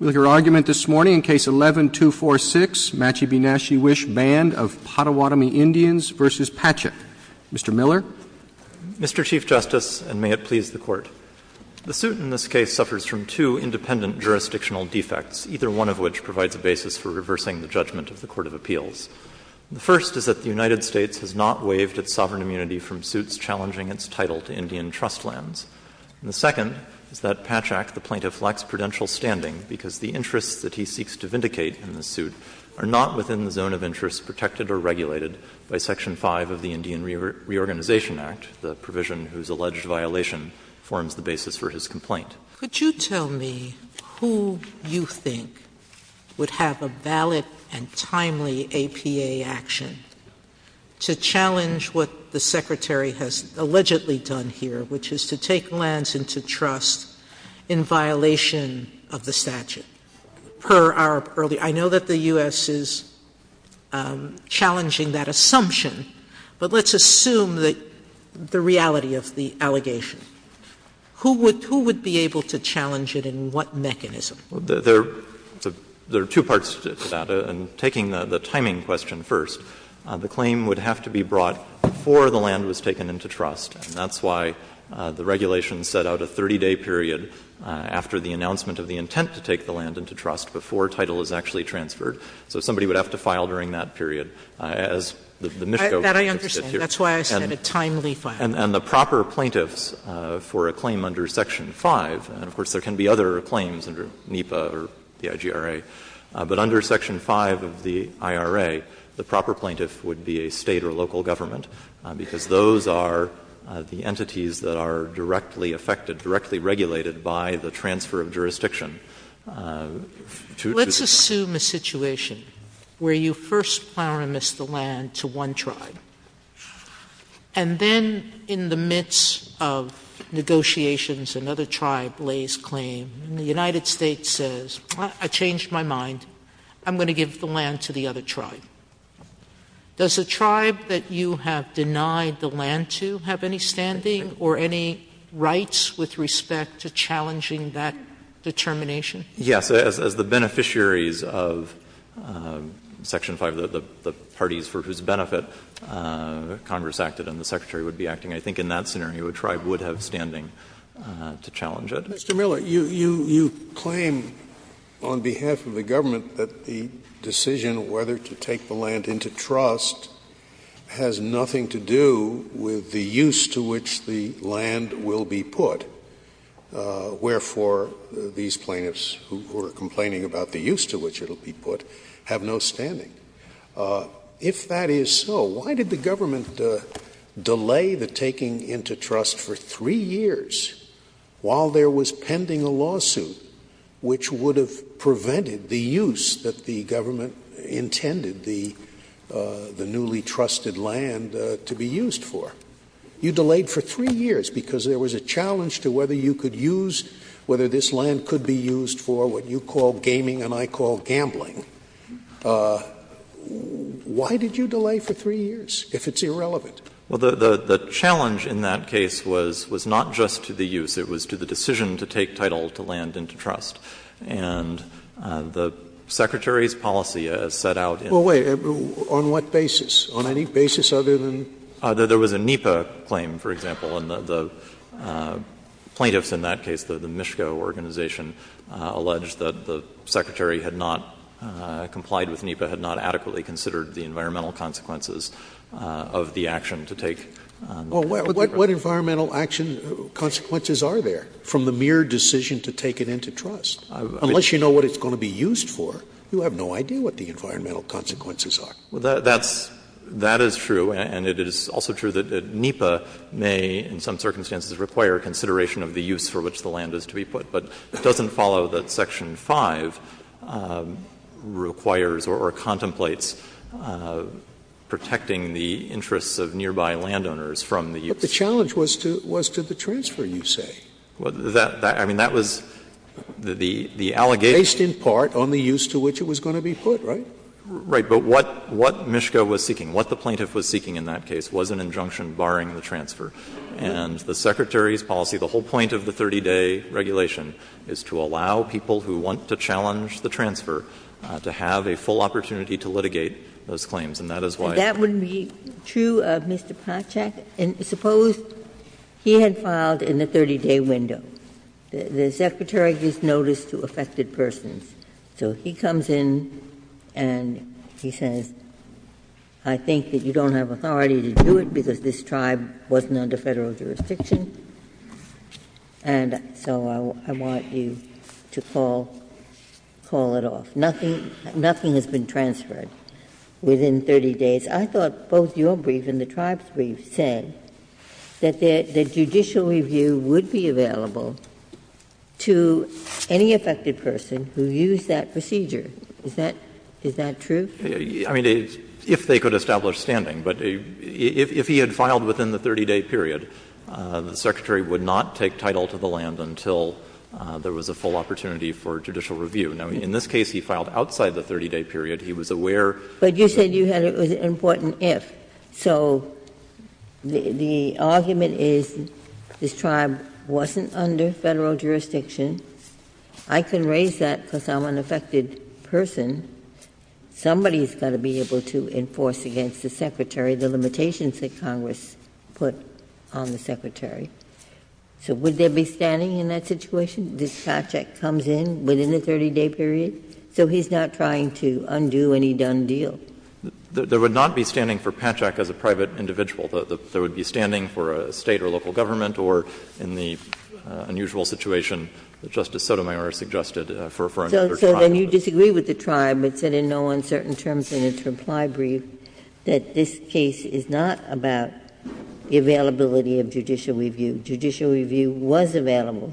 Mr. Miller. Mr. Chief Justice, and may it please the Court. The suit in this case suffers from two independent jurisdictional defects, either one of which provides a basis for reversing the judgment of the Court of Appeals. The first is that the United States has not waived its sovereign immunity from suits challenging its title to Indian trust lands. of the court of appeals. Could you tell me who you think would have a valid and timely APA action to challenge what the Secretary has allegedly done here, which is to take lands into trust in violation of the statute, per our earlier — I know that the U.S. is challenging that assumption, but let's assume that the reality of the allegation. Who would — who would be able to challenge it and what mechanism? There are two parts to that. In taking the timing question first, the claim would have to be brought before the land was taken into trust, and that's why the regulation set out a 30-day period after the announcement of the intent to take the land into trust before title is actually transferred. So somebody would have to file during that period, as the Mischko plaintiff did here. Sotomayor That I understand. That's why I said a timely filing. And the proper plaintiffs for a claim under section 5, and of course there can be other claims under NEPA or the IGRA, but under section 5 of the IRA, the proper plaintiff would be a State or local government, because those are the entities that are directly affected, directly regulated by the transfer of jurisdiction. Sotomayor Let's assume a situation where you first plow and mist the land to one tribe, and then in the midst of negotiations another tribe lays claim, and the United States says, I changed my mind, I'm going to give the land to the other tribe. Does the tribe that you have denied the land to have any standing or any right to claim the land, would it have any rights with respect to challenging that determination? Yes. As the beneficiaries of section 5, the parties for whose benefit Congress acted and the Secretary would be acting, I think in that scenario a tribe would have standing to challenge it. Scalia Mr. Miller, you claim on behalf of the government that the decision whether to take the land into trust has nothing to do with the use to which the land will be put, wherefore these plaintiffs who are complaining about the use to which it will be put have no standing. If that is so, why did the government delay the taking into trust for three years while there was pending a lawsuit which would have prevented the use that the government intended the newly trusted land to be used for? You delayed for three years because there was a challenge to whether you could use, whether this land could be used for what you call gaming and I call gambling. Why did you delay for three years if it's irrelevant? Well, the challenge in that case was not just to the use. It was to the decision to take title to land into trust. And the Secretary's policy as set out in the statute. Well, wait. On what basis? On any basis other than? There was a NEPA claim, for example. And the plaintiffs in that case, the MISCO organization, alleged that the Secretary had not complied with NEPA, had not adequately considered the environmental consequences of the action to take. What environmental action consequences are there from the mere decision to take it into trust? Unless you know what it's going to be used for, you have no idea what the environmental consequences are. Well, that's, that is true. And it is also true that NEPA may, in some circumstances, require consideration of the use for which the land is to be put. But it doesn't follow that Section 5 requires or contemplates protecting the interests of nearby landowners from the use. But the challenge was to the transfer, you say. Well, that, I mean, that was the allegation. Based in part on the use to which it was going to be put, right? Right. But what, what MISCO was seeking, what the plaintiff was seeking in that case was an injunction barring the transfer. And the Secretary's policy, the whole point of the 30-day regulation, is to allow people who want to challenge the transfer to have a full opportunity to litigate those claims, and that is why it's there. That wouldn't be true of Mr. Potchak? Suppose he had filed in the 30-day window. The Secretary gives notice to affected persons. So he comes in and he says, I think that you don't have authority to do it because this tribe wasn't under Federal jurisdiction, and so I want you to call, call it off. Nothing, nothing has been transferred within 30 days. I thought both your brief and the tribe's brief said that the judicial review would be available to any affected person who used that procedure. Is that, is that true? I mean, if they could establish standing. But if he had filed within the 30-day period, the Secretary would not take title to the land until there was a full opportunity for judicial review. Now, in this case, he filed outside the 30-day period. He was aware. But you said you had an important if. So the argument is this tribe wasn't under Federal jurisdiction. I can raise that because I'm an affected person. Somebody's got to be able to enforce against the Secretary the limitations that Congress put on the Secretary. So would there be standing in that situation? This Potchak comes in within the 30-day period, so he's not trying to undo any done deal. There would not be standing for Potchak as a private individual. There would be standing for a State or local government or in the unusual situation that Justice Sotomayor suggested for another tribe. So then you disagree with the tribe, but said in no uncertain terms in its reply brief, that this case is not about the availability of judicial review. Judicial review was available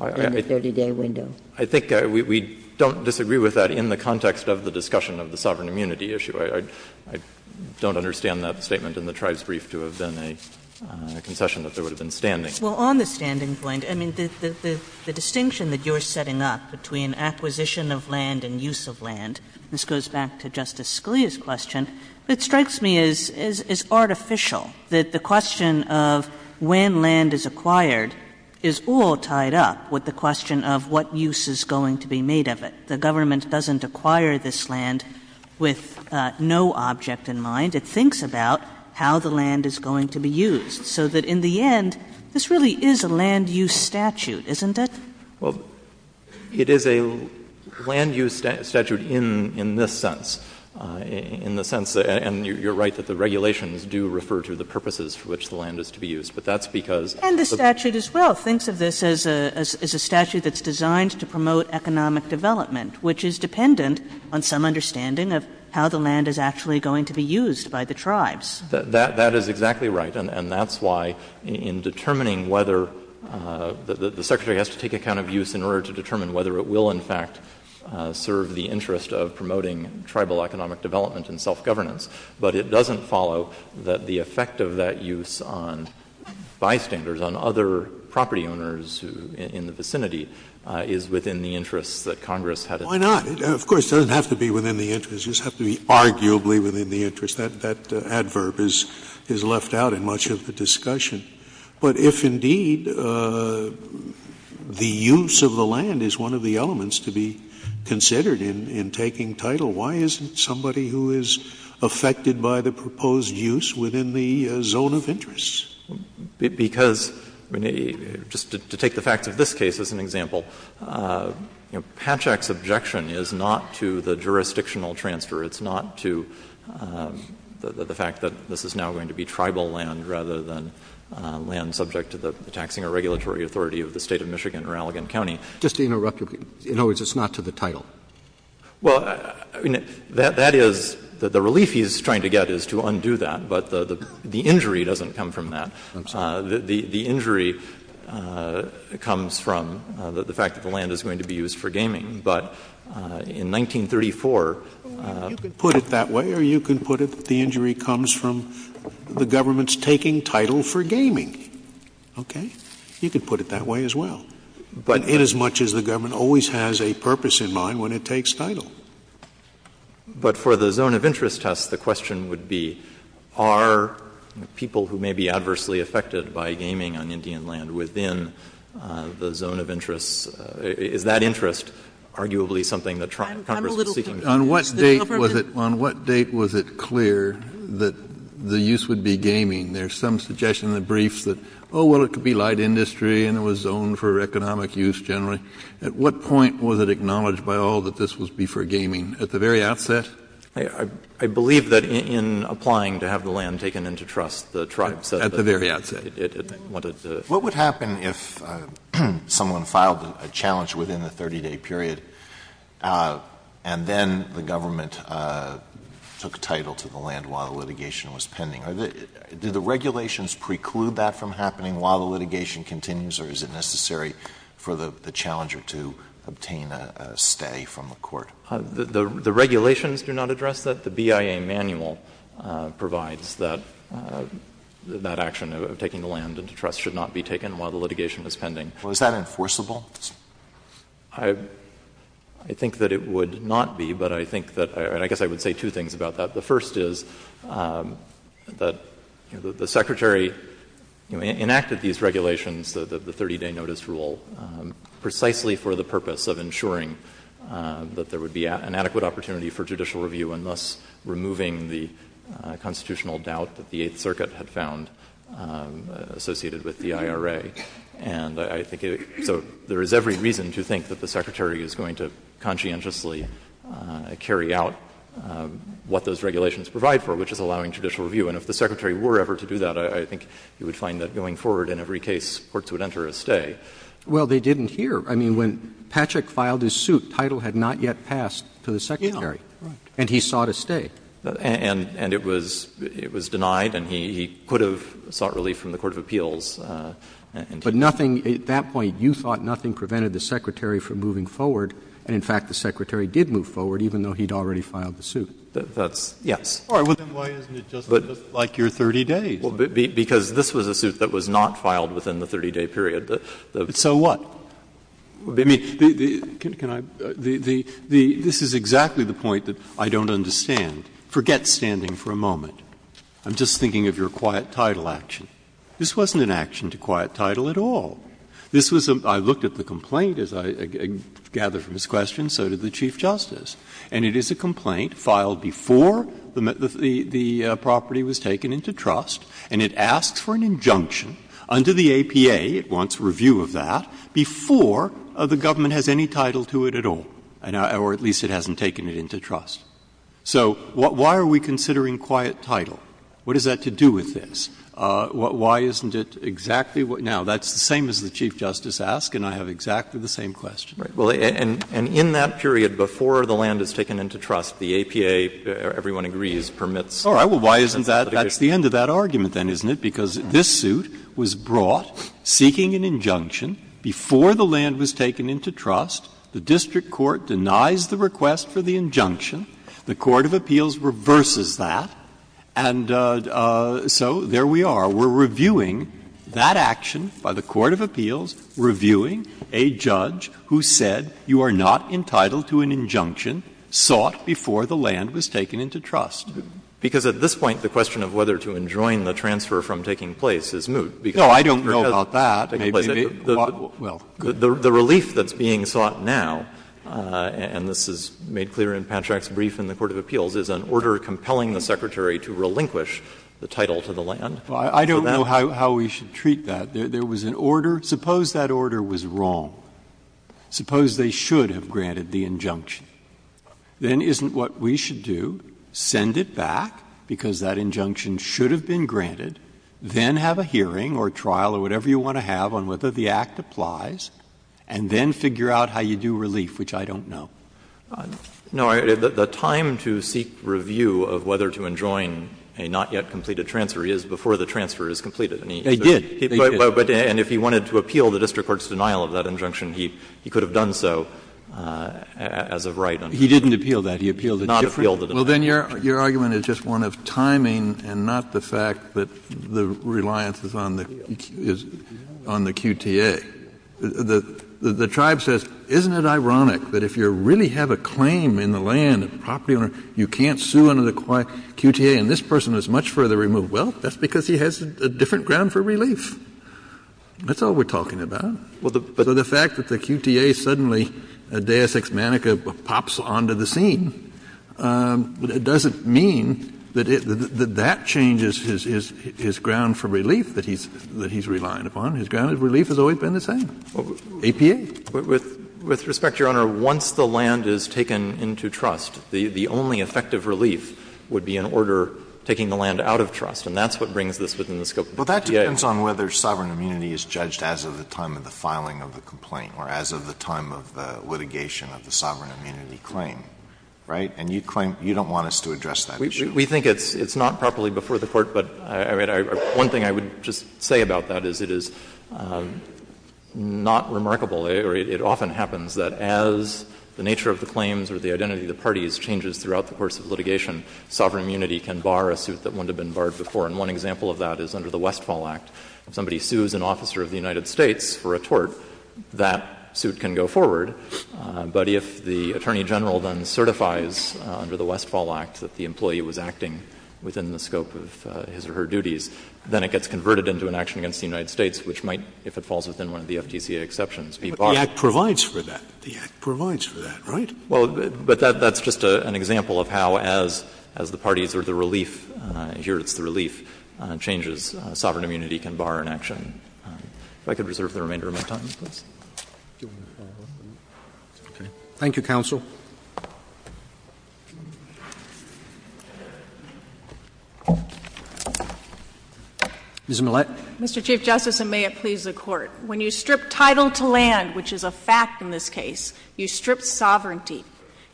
in the 30-day window. I think we don't disagree with that in the context of the discussion of the sovereign immunity issue. I don't understand that statement in the tribe's brief to have been a concession that there would have been standing. Well, on the standing point, I mean, the distinction that you're setting up between acquisition of land and use of land, this goes back to Justice Scalia's question, it strikes me as artificial, that the question of when land is acquired is all tied up with the question of what use is going to be made of it. The government doesn't acquire this land with no object in mind. It thinks about how the land is going to be used, so that in the end, this really is a land-use statute, isn't it? Well, it is a land-use statute in this sense, in the sense, and you're right that the regulations do refer to the purposes for which the land is to be used, but that's because of the statute. And the statute as well thinks of this as a statute that's designed to promote economic development, which is dependent on some understanding of how the land is actually going to be used by the tribes. That is exactly right, and that's why in determining whether the Secretary has to take account of use in order to determine whether it will, in fact, serve the interest of promoting tribal economic development and self-governance, but it doesn't follow that the effect of that use on bystanders, on other property owners in the vicinity, is within the interests that Congress had in mind. Scalia Why not? Of course, it doesn't have to be within the interests. It doesn't have to be arguably within the interests. That adverb is left out in much of the discussion. But if indeed the use of the land is one of the elements to be considered in taking title, why isn't somebody who is affected by the proposed use within the zone of interest? Because, I mean, just to take the facts of this case as an example, you know, Patchak's objection is not to the jurisdictional transfer. It's not to the fact that this is now going to be tribal land rather than land subject to the taxing or regulatory authority of the State of Michigan or Allegan County. Roberts Just to interrupt you, in other words, it's not to the title? Well, I mean, that is the relief he is trying to get is to undo that. But the injury doesn't come from that. The injury comes from the fact that the land is going to be used for gaming. But in 1934 the injury comes from the government's taking title for gaming. Okay? You could put it that way as well. But inasmuch as the government always has a purpose in mind when it takes title. But for the zone of interest test, the question would be, are people who may be adversely affected by gaming on Indian land within the zone of interest, is that interest arguably something that Congress is seeking? On what date was it clear that the use would be gaming? There's some suggestion in the briefs that, oh, well, it could be light industry and it was zoned for economic use generally. At what point was it acknowledged by all that this would be for gaming? At the very outset? I believe that in applying to have the land taken into trust, the tribe said that At the very outset. it wanted to What would happen if someone filed a challenge within the 30-day period and then the government took title to the land while the litigation was pending? Did the regulations preclude that from happening while the litigation continues or is it necessary for the challenger to obtain a stay from the court? The regulations do not address that. The BIA manual provides that that action of taking the land into trust should not be taken while the litigation is pending. Was that enforceable? I think that it would not be, but I think that I guess I would say two things about that. The first is that the Secretary enacted these regulations, the 30-day notice rule, precisely for the purpose of ensuring that there would be an adequate opportunity for judicial review and thus removing the constitutional doubt that the Eighth Circuit had found associated with the IRA. And I think so there is every reason to think that the Secretary is going to provide for, which is allowing judicial review. And if the Secretary were ever to do that, I think you would find that going forward in every case, courts would enter a stay. Well, they didn't here. I mean, when Patrick filed his suit, title had not yet passed to the Secretary. Yeah, right. And he sought a stay. And it was denied and he could have sought relief from the court of appeals. But nothing, at that point, you thought nothing prevented the Secretary from moving And in fact, the Secretary did move forward even though he had already filed the suit. Yes. Then why isn't it just like your 30 days? Because this was a suit that was not filed within the 30-day period. So what? I mean, this is exactly the point that I don't understand. Forget standing for a moment. I'm just thinking of your quiet title action. This wasn't an action to quiet title at all. This was a — I looked at the complaint, as I gather from this question, so did the Chief Justice. And it is a complaint filed before the property was taken into trust, and it asks for an injunction under the APA, it wants review of that, before the government has any title to it at all, or at least it hasn't taken it into trust. So why are we considering quiet title? What does that have to do with this? Why isn't it exactly — now, that's the same as the Chief Justice asked, and I have exactly the same question. Well, and in that period before the land is taken into trust, the APA, everyone agrees, permits. All right. Well, why isn't that — that's the end of that argument, then, isn't it? Because this suit was brought seeking an injunction before the land was taken into trust. The district court denies the request for the injunction. The court of appeals reverses that. And so there we are. So we're reviewing that action by the court of appeals, reviewing a judge who said you are not entitled to an injunction sought before the land was taken into trust. Because at this point, the question of whether to enjoin the transfer from taking place is moot. No, I don't know about that. Well, good. The relief that's being sought now, and this is made clear in Patchak's brief in the court of appeals, is an order compelling the Secretary to relinquish the title to the land. I don't know how we should treat that. There was an order. Suppose that order was wrong. Suppose they should have granted the injunction. Then isn't what we should do, send it back, because that injunction should have been granted, then have a hearing or trial or whatever you want to have on whether the act applies, and then figure out how you do relief, which I don't know? No. The time to seek review of whether to enjoin a not yet completed transfer is before the transfer is completed. They did. They did. And if he wanted to appeal the district court's denial of that injunction, he could have done so as a right. He didn't appeal that. He appealed a different. Well, then your argument is just one of timing and not the fact that the reliance is on the QTA. The tribe says, isn't it ironic that if you really have a claim in the land, a property owner, you can't sue under the QTA, and this person is much further removed? Well, that's because he has a different ground for relief. That's all we're talking about. So the fact that the QTA suddenly, a deus ex manica, pops onto the scene, it doesn't mean that that changes his ground for relief that he's relying upon. His ground of relief has always been the same, APA. With respect, Your Honor, once the land is taken into trust, the only effective relief would be an order taking the land out of trust. And that's what brings this within the scope of the QA. Well, that depends on whether sovereign immunity is judged as of the time of the filing of the complaint or as of the time of the litigation of the sovereign immunity claim, right? And you claim you don't want us to address that issue. We think it's not properly before the Court, but one thing I would just say about that is it is not remarkable or it often happens that as the nature of the claims or the identity of the parties changes throughout the course of litigation, sovereign immunity can bar a suit that wouldn't have been barred before. And one example of that is under the Westfall Act. If somebody sues an officer of the United States for a tort, that suit can go forward. But if the Attorney General then certifies under the Westfall Act that the employee was acting within the scope of his or her duties, then it gets converted into an action against the United States, which might, if it falls within one of the FTCA exceptions, be barred. But the Act provides for that. The Act provides for that, right? Well, but that's just an example of how, as the parties or the relief, here it's the relief, changes, sovereign immunity can bar an action. If I could reserve the remainder of my time, please. Roberts. Thank you, counsel. Ms. Millett. Mr. Chief Justice, and may it please the Court. When you strip title to land, which is a fact in this case, you strip sovereignty.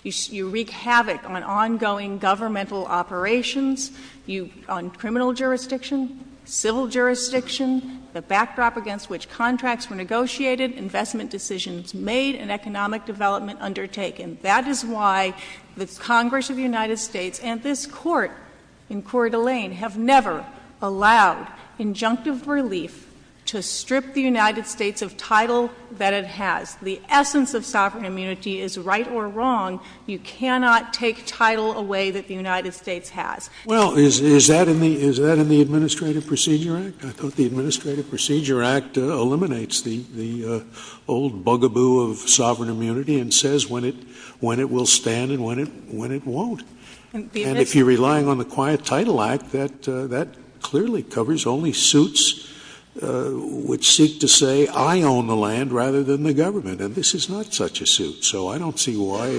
You wreak havoc on ongoing governmental operations, on criminal jurisdiction, civil jurisdiction, the backdrop against which contracts were negotiated, investment decisions made, and economic development undertaken. That is why the Congress of the United States and this Court in Coeur d'Alene have never allowed injunctive relief to strip the United States of title that it has. The essence of sovereign immunity is right or wrong. You cannot take title away that the United States has. Well, is that in the Administrative Procedure Act? I thought the Administrative Procedure Act eliminates the old bugaboo of sovereign immunity and says when it will stand and when it won't. And if you're relying on the Quiet Title Act, that clearly covers only suits which seek to say I own the land rather than the government. And this is not such a suit. So I don't see why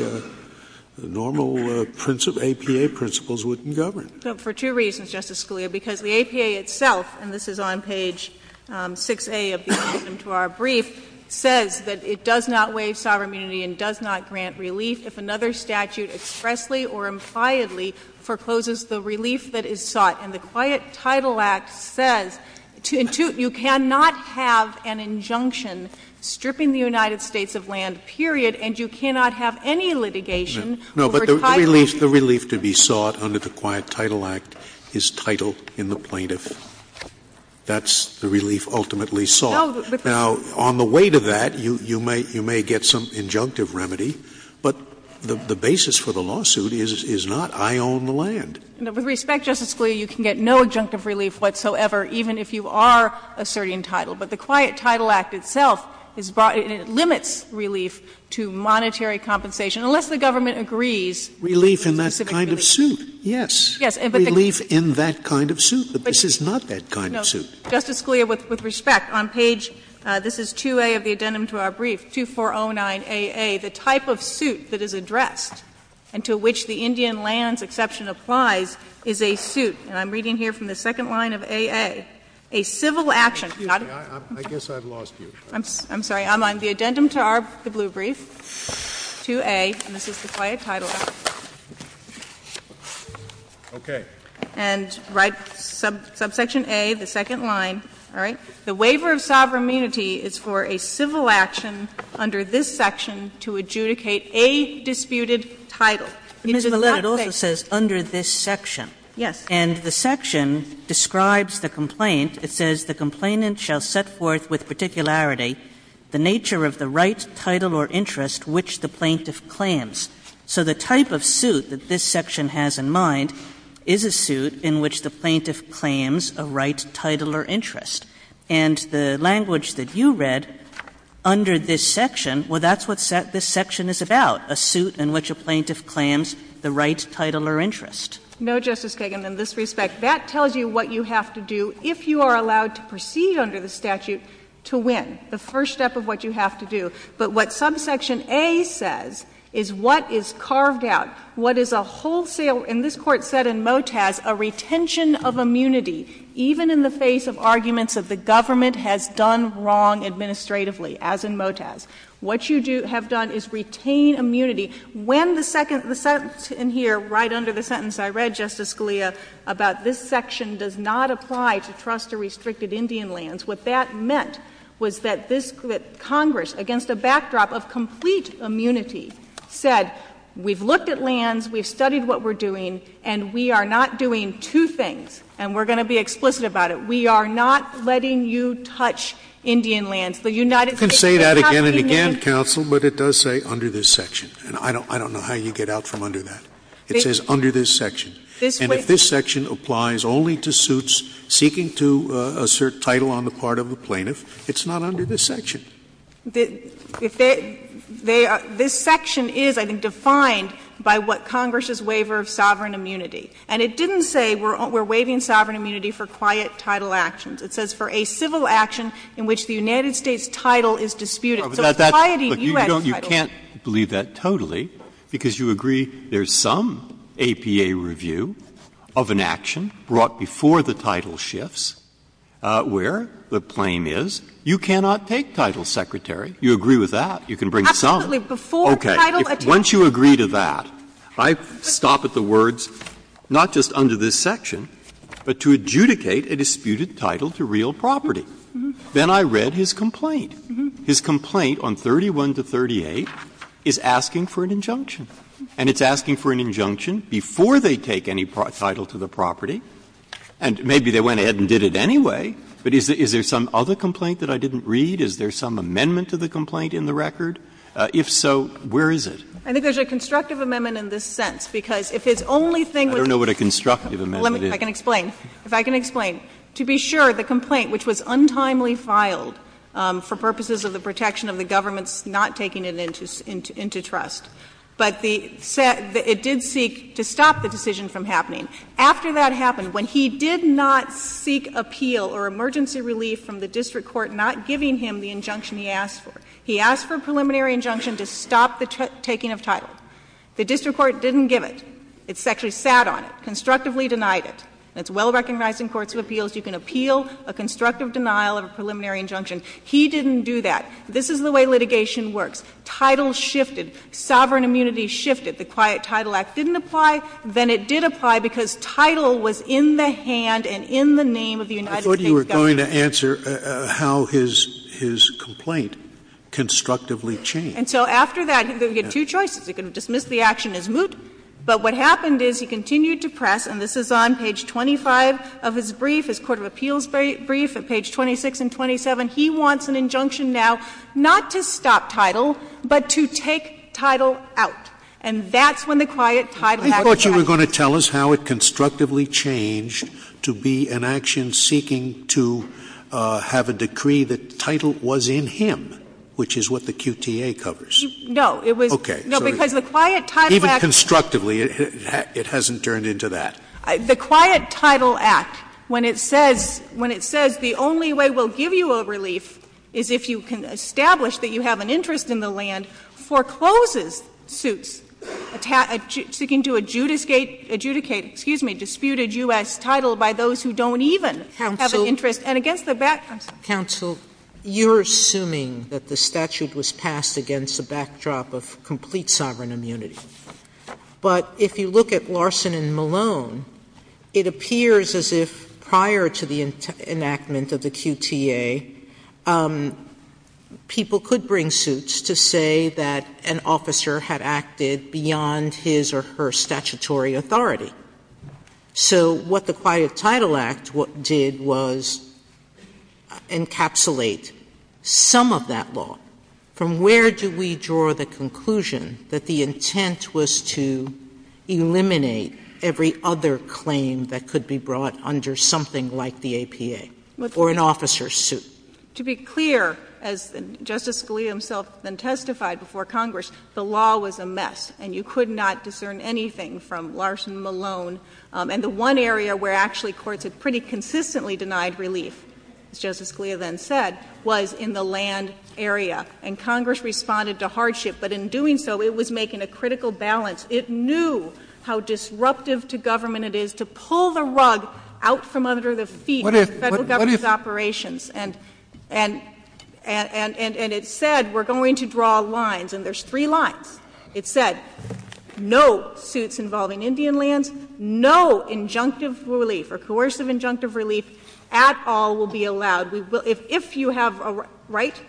normal APA principles wouldn't govern. For two reasons, Justice Scalia. Because the APA itself, and this is on page 6A of the item to our brief, says that it does not waive sovereign immunity and does not grant relief if another statute expressly or impliedly forecloses the relief that is sought. And the Quiet Title Act says you cannot have an injunction stripping the United States of land, period, and you cannot have any litigation over title. No, but the relief to be sought under the Quiet Title Act is title in the plaintiff. That's the relief ultimately sought. Now, on the way to that, you may get some injunctive remedy, but the basis for the suit is not I own the land. With respect, Justice Scalia, you can get no injunctive relief whatsoever even if you are asserting title. But the Quiet Title Act itself is brought in and it limits relief to monetary compensation unless the government agrees. Relief in that kind of suit. Yes. Yes. Relief in that kind of suit. But this is not that kind of suit. Justice Scalia, with respect, on page, this is 2A of the addendum to our brief, 2409AA, the type of suit that is addressed and to which the Indian lands exception applies is a suit, and I'm reading here from the second line of AA, a civil action. Excuse me. I guess I've lost you. I'm sorry. I'm on the addendum to our, the blue brief, 2A, and this is the Quiet Title Act. Okay. And right, subsection A, the second line, all right? The waiver of sovereign immunity is for a civil action under this section to adjudicate a disputed title. It does not say. Ms. Millett, it also says under this section. Yes. And the section describes the complaint. It says the complainant shall set forth with particularity the nature of the right title or interest which the plaintiff claims. So the type of suit that this section has in mind is a suit in which the plaintiff claims a right title or interest, and the language that you read under this section, well, that's what this section is about, a suit in which a plaintiff claims the right title or interest. No, Justice Kagan. In this respect, that tells you what you have to do if you are allowed to proceed under the statute to win, the first step of what you have to do. But what subsection A says is what is carved out, what is a wholesale, and this Court said in Motaz, a retention of immunity even in the face of arguments that the government has done wrong administratively, as in Motaz. What you have done is retain immunity. When the second sentence in here, right under the sentence I read, Justice Scalia, about this section does not apply to trust or restricted Indian lands, what that meant was that Congress, against a backdrop of complete immunity, said we've looked at lands, we've looked at land, and we are not doing two things, and we're going to be explicit about it. We are not letting you touch Indian lands. The United States is not immunity. You can say that again and again, counsel, but it does say under this section. And I don't know how you get out from under that. It says under this section. And if this section applies only to suits seeking to assert title on the part of the plaintiff, it's not under this section. This section is, I think, defined by what Congress's waiver of sovereign immunity. And it didn't say we're waiving sovereign immunity for quiet title actions. It says for a civil action in which the United States' title is disputed. So it's a quiet U.S. title. Breyer, you can't believe that totally, because you agree there's some APA review of an action brought before the title shifts where the claim is you cannot take title from somebody else. And you can take title from a federal secretary. You agree with that. You can bring some. Okay. Once you agree to that, I stop at the words not just under this section, but to adjudicate a disputed title to real property. Then I read his complaint. His complaint on 31 to 38 is asking for an injunction. And it's asking for an injunction before they take any title to the property. And maybe they went ahead and did it anyway. But is there some other complaint that I didn't read? Is there some amendment to the complaint in the record? If so, where is it? I think there's a constructive amendment in this sense, because if his only thing I don't know what a constructive amendment is. I can explain. If I can explain. To be sure, the complaint, which was untimely filed for purposes of the protection of the government's not taking it into trust, but it did seek to stop the decision from happening. After that happened, when he did not seek appeal or emergency relief from the district court not giving him the injunction he asked for, he asked for a preliminary injunction to stop the taking of title. The district court didn't give it. It actually sat on it, constructively denied it. And it's well recognized in courts of appeals you can appeal a constructive denial of a preliminary injunction. He didn't do that. This is the way litigation works. Title shifted. Sovereign immunity shifted. The Quiet Title Act didn't apply. Then it did apply because title was in the hand and in the name of the United States government. I thought you were going to answer how his complaint constructively changed. And so after that, he had two choices. He could have dismissed the action as moot. But what happened is he continued to press, and this is on page 25 of his brief, his court of appeals brief at page 26 and 27. He wants an injunction now not to stop title, but to take title out. And that's when the Quiet Title Act was enacted. I thought you were going to tell us how it constructively changed to be an action seeking to have a decree that title was in him, which is what the QTA covers. No. It was. Okay. No, because the Quiet Title Act. Even constructively, it hasn't turned into that. The Quiet Title Act, when it says the only way we'll give you a relief is if you can have an interest in the land, forecloses suits seeking to adjudicate, excuse me, dispute a U.S. title by those who don't even have an interest. Counsel. And against the back, I'm sorry. Counsel, you're assuming that the statute was passed against a backdrop of complete sovereign immunity. But if you look at Larson and Malone, it appears as if prior to the enactment of the QTA, people could bring suits to say that an officer had acted beyond his or her statutory authority. So what the Quiet Title Act did was encapsulate some of that law. From where do we draw the conclusion that the intent was to eliminate every other claim that could be brought under something like the APA or an officer's suit? To be clear, as Justice Scalia himself then testified before Congress, the law was a mess and you could not discern anything from Larson and Malone. And the one area where actually courts had pretty consistently denied relief, as Justice Scalia then said, was in the land area. And Congress responded to hardship. But in doing so, it was making a critical balance. It knew how disruptive to government it is to pull the rug out from under the feet of the Federal Government's operations. And it said we're going to draw lines. And there's three lines. It said no suits involving Indian lands, no injunctive relief or coercive injunctive relief at all will be allowed. If you have a right,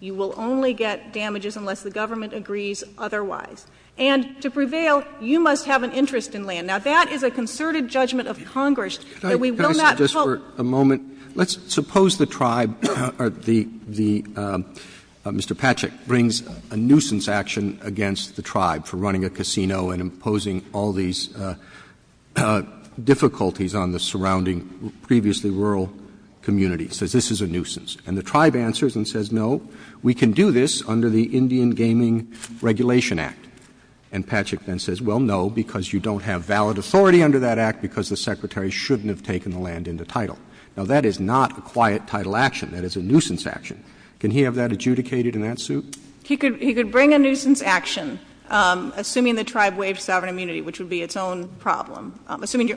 you will only get damages unless the government agrees otherwise. And to prevail, you must have an interest in land. Now, that is a concerted judgment of Congress that we will not pull. Roberts. Let's suppose the tribe or the Mr. Patchak brings a nuisance action against the tribe for running a casino and imposing all these difficulties on the surrounding previously rural communities. Says this is a nuisance. And the tribe answers and says, no, we can do this under the Indian Gaming Regulation Act. And Patchak then says, well, no, because you don't have valid authority under that act because the Secretary shouldn't have taken the land into title. Now, that is not a quiet title action. That is a nuisance action. Can he have that adjudicated in that suit? He could bring a nuisance action, assuming the tribe waived sovereign immunity, which would be its own problem. I'm assuming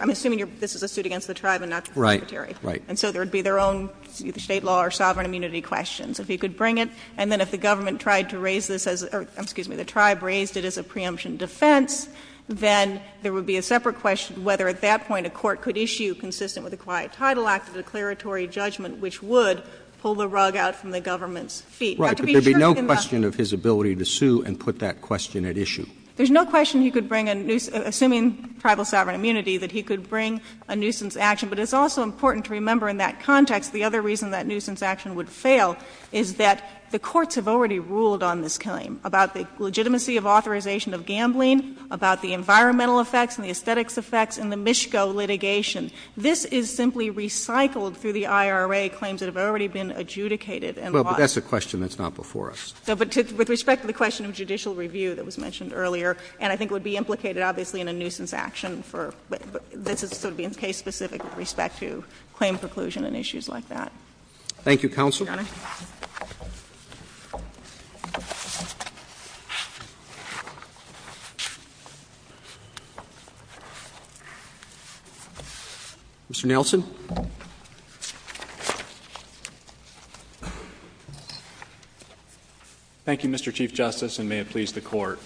this is a suit against the tribe and not the Secretary. And so there would be their own State law or sovereign immunity questions. If he could bring it, and then if the government tried to raise this as — or, excuse me, the tribe raised it as a preemption defense, then there would be a separate question whether at that point a court could issue, consistent with the Quiet Title Act, a declaratory judgment which would pull the rug out from the government's Now, to be sure in that — Right, but there would be no question of his ability to sue and put that question at issue. There's no question he could bring a — assuming tribal sovereign immunity, that he could bring a nuisance action. But it's also important to remember in that context the other reason that nuisance action would fail is that the courts have already ruled on this claim, about the legitimacy of authorization of gambling, about the environmental effects and the aesthetics effects and the Mischko litigation. This is simply recycled through the IRA claims that have already been adjudicated and lost. Well, but that's a question that's not before us. But with respect to the question of judicial review that was mentioned earlier, and I think would be implicated, obviously, in a nuisance action for — this is sort of being case-specific with respect to claim preclusion and issues like that. Thank you, Counsel. Your Honor. Mr. Nelson. Thank you, Mr. Chief Justice, and may it please the Court.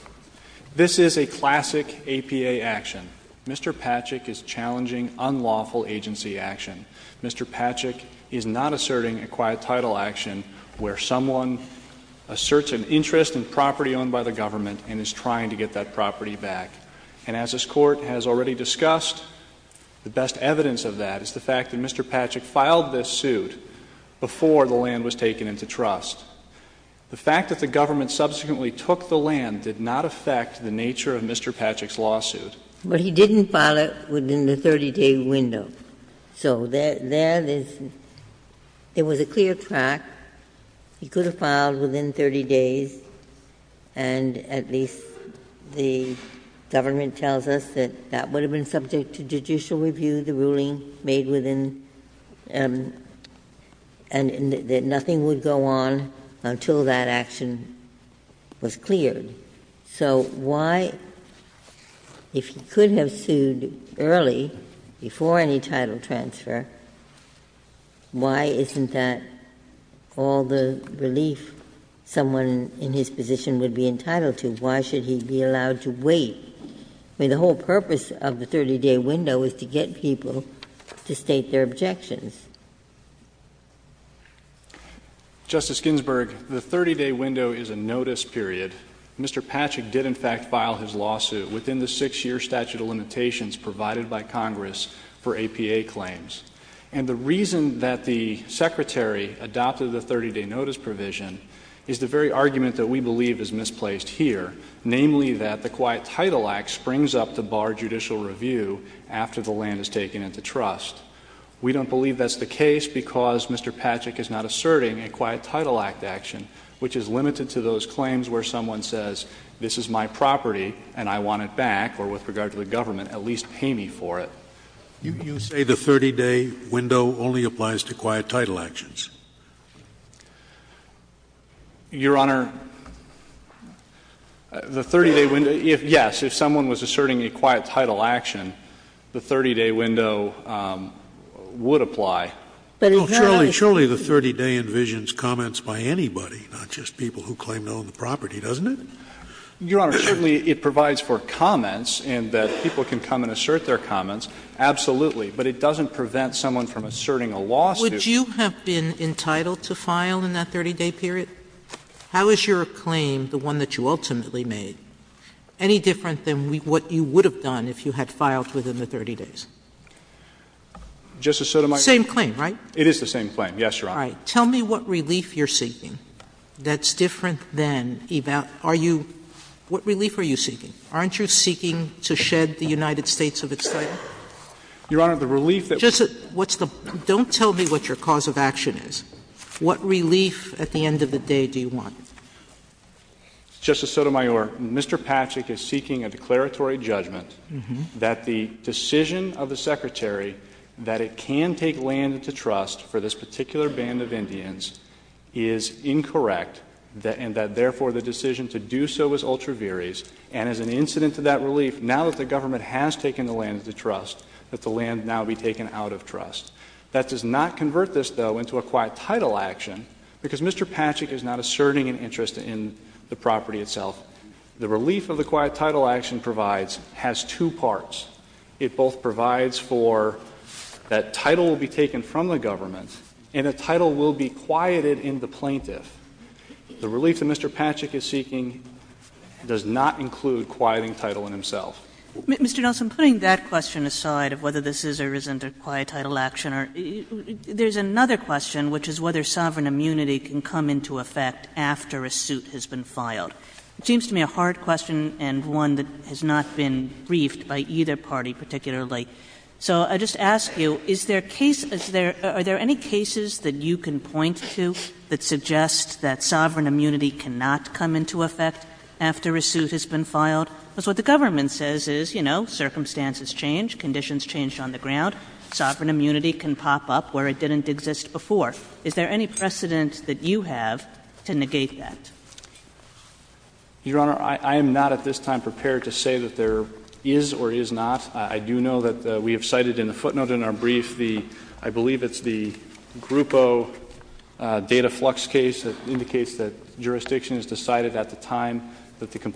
This is a classic APA action. Mr. Patchak is challenging unlawful agency action. Mr. Patchak is not asserting a quiet title action where someone asserts an interest in property owned by the government and is trying to get that property back. And as this Court has already discussed, the best evidence of that is the fact that Mr. Patchak filed this suit before the land was taken into trust. The fact that the government subsequently took the land did not affect the nature of Mr. Patchak's lawsuit. But he didn't file it within the 30-day window. So there is — there was a clear track. He could have filed within 30 days, and at least the government tells us that that would have been subject to judicial review, the ruling made within — and that nothing would go on until that action was cleared. So why — if he could have sued early, before any title transfer, why isn't that all the relief someone in his position would be entitled to? Why should he be allowed to wait? I mean, the whole purpose of the 30-day window is to get people to state their objections. Justice Ginsburg, the 30-day window is a notice period. Mr. Patchak did, in fact, file his lawsuit within the six-year statute of limitations provided by Congress for APA claims. And the reason that the Secretary adopted the 30-day notice provision is the very argument that we believe is misplaced here, namely that the Quiet Title Act springs up to bar judicial review after the land is taken into trust. We don't believe that's the case because Mr. Patchak is not asserting a Quiet Title Act action, which is limited to those claims where someone says, this is my property and I want it back, or with regard to the government, at least pay me for it. You say the 30-day window only applies to Quiet Title actions. Your Honor, the 30-day window — yes, if someone was asserting a Quiet Title action, the 30-day window would apply. Sotomayor, surely the 30-day envisions comments by anybody, not just people who claim to own the property, doesn't it? Your Honor, certainly it provides for comments in that people can come and assert their comments, absolutely, but it doesn't prevent someone from asserting a lawsuit. Would you have been entitled to file in that 30-day period? How is your claim, the one that you ultimately made, any different than what you would have done if you had filed within the 30 days? Same claim, right? It is the same claim, yes, Your Honor. All right. Tell me what relief you're seeking that's different than — are you — what relief are you seeking? Aren't you seeking to shed the United States of its title? Your Honor, the relief that — Just what's the — don't tell me what your cause of action is. What relief at the end of the day do you want? Justice Sotomayor, Mr. Patchak is seeking a declaratory judgment that the decision of the Secretary that it can take land into trust for this particular band of Indians is incorrect, and that, therefore, the decision to do so is ultra viris, and as an incident to that relief, now that the government has taken the land into trust, that the land now be taken out of trust. That does not convert this, though, into a quiet title action, because Mr. Patchak is not asserting an interest in the property itself. The relief of the quiet title action provides has two parts. It both provides for that title will be taken from the government, and the title will be quieted in the plaintiff. The relief that Mr. Patchak is seeking does not include quieting title in himself. Mr. Nelson, putting that question aside of whether this is or isn't a quiet title action, there's another question, which is whether sovereign immunity can come into effect after a suit has been filed. It seems to me a hard question and one that has not been briefed by either party particularly. So I just ask you, is there a case — are there any cases that you can point to that suggest that sovereign immunity cannot come into effect after a suit has been filed? Because what the government says is, you know, circumstances change, conditions change on the ground. Sovereign immunity can pop up where it didn't exist before. Is there any precedent that you have to negate that? Your Honor, I am not at this time prepared to say that there is or is not. I do know that we have cited in the footnote in our brief the — I believe it's the Grupo data flux case that indicates that jurisdiction has decided at the time that the issue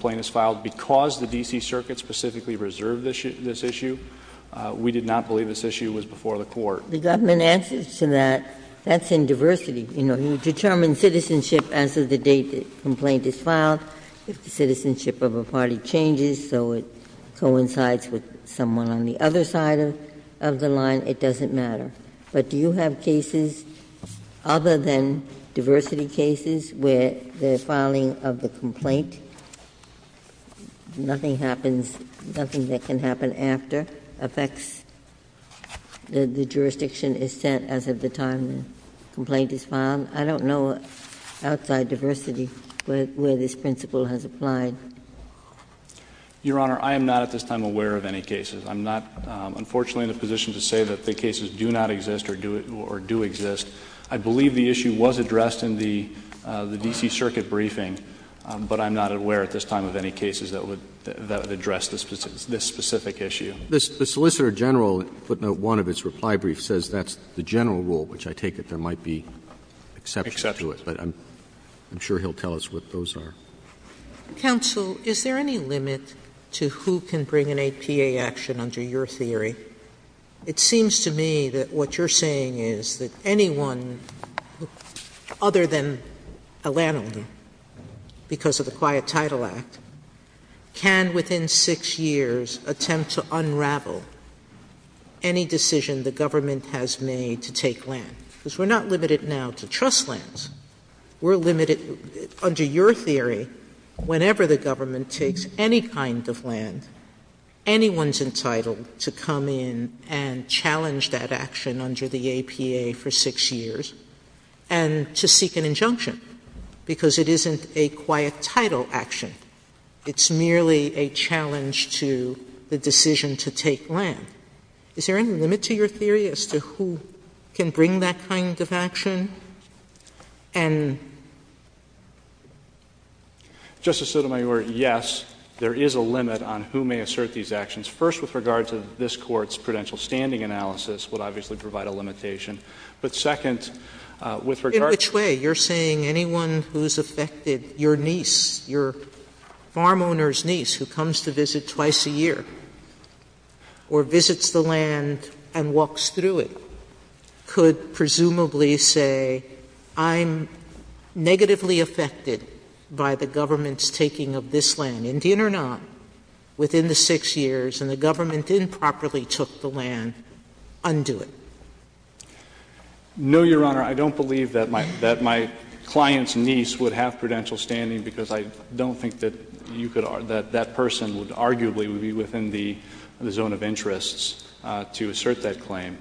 was before the court. The government answers to that. That's in diversity. You know, you determine citizenship as of the date the complaint is filed. If the citizenship of a party changes so it coincides with someone on the other side of the line, it doesn't matter. But do you have cases other than diversity cases where the filing of the complaint nothing happens, nothing that can happen after affects the jurisdiction is set as of the time the complaint is filed? I don't know outside diversity where this principle has applied. Your Honor, I am not at this time aware of any cases. I'm not, unfortunately, in a position to say that the cases do not exist or do exist. I believe the issue was addressed in the D.C. Circuit briefing, but I'm not aware at this time of any cases that would address this specific issue. The Solicitor General in footnote 1 of its reply brief says that's the general rule, which I take it there might be exceptions to it. Exceptions. But I'm sure he'll tell us what those are. Counsel, is there any limit to who can bring an APA action under your theory? It seems to me that what you're saying is that anyone other than a landholder, because of the Quiet Title Act, can within six years attempt to unravel any decision the government has made to take land. Because we're not limited now to trust lands. We're limited, under your theory, whenever the government takes any kind of land, anyone's entitled to come in and challenge that action under the APA for six years and to seek an injunction, because it isn't a Quiet Title action. It's merely a challenge to the decision to take land. Is there any limit to your theory as to who can bring that kind of action? Justice Sotomayor, yes, there is a limit on who may assert these actions. First, with regard to this Court's prudential standing analysis would obviously provide a limitation. on who may assert these actions. In which way? You're saying anyone who's affected, your niece, your farm owner's niece who comes to visit twice a year or visits the land and walks through it could presumably say, I'm negatively affected by the government's taking of this land, Indian or not, within the six years, and the government improperly took the land, undo it? No, Your Honor. I don't believe that my client's niece would have prudential standing because I don't think that that person would arguably be within the zone of interests to assert that claim.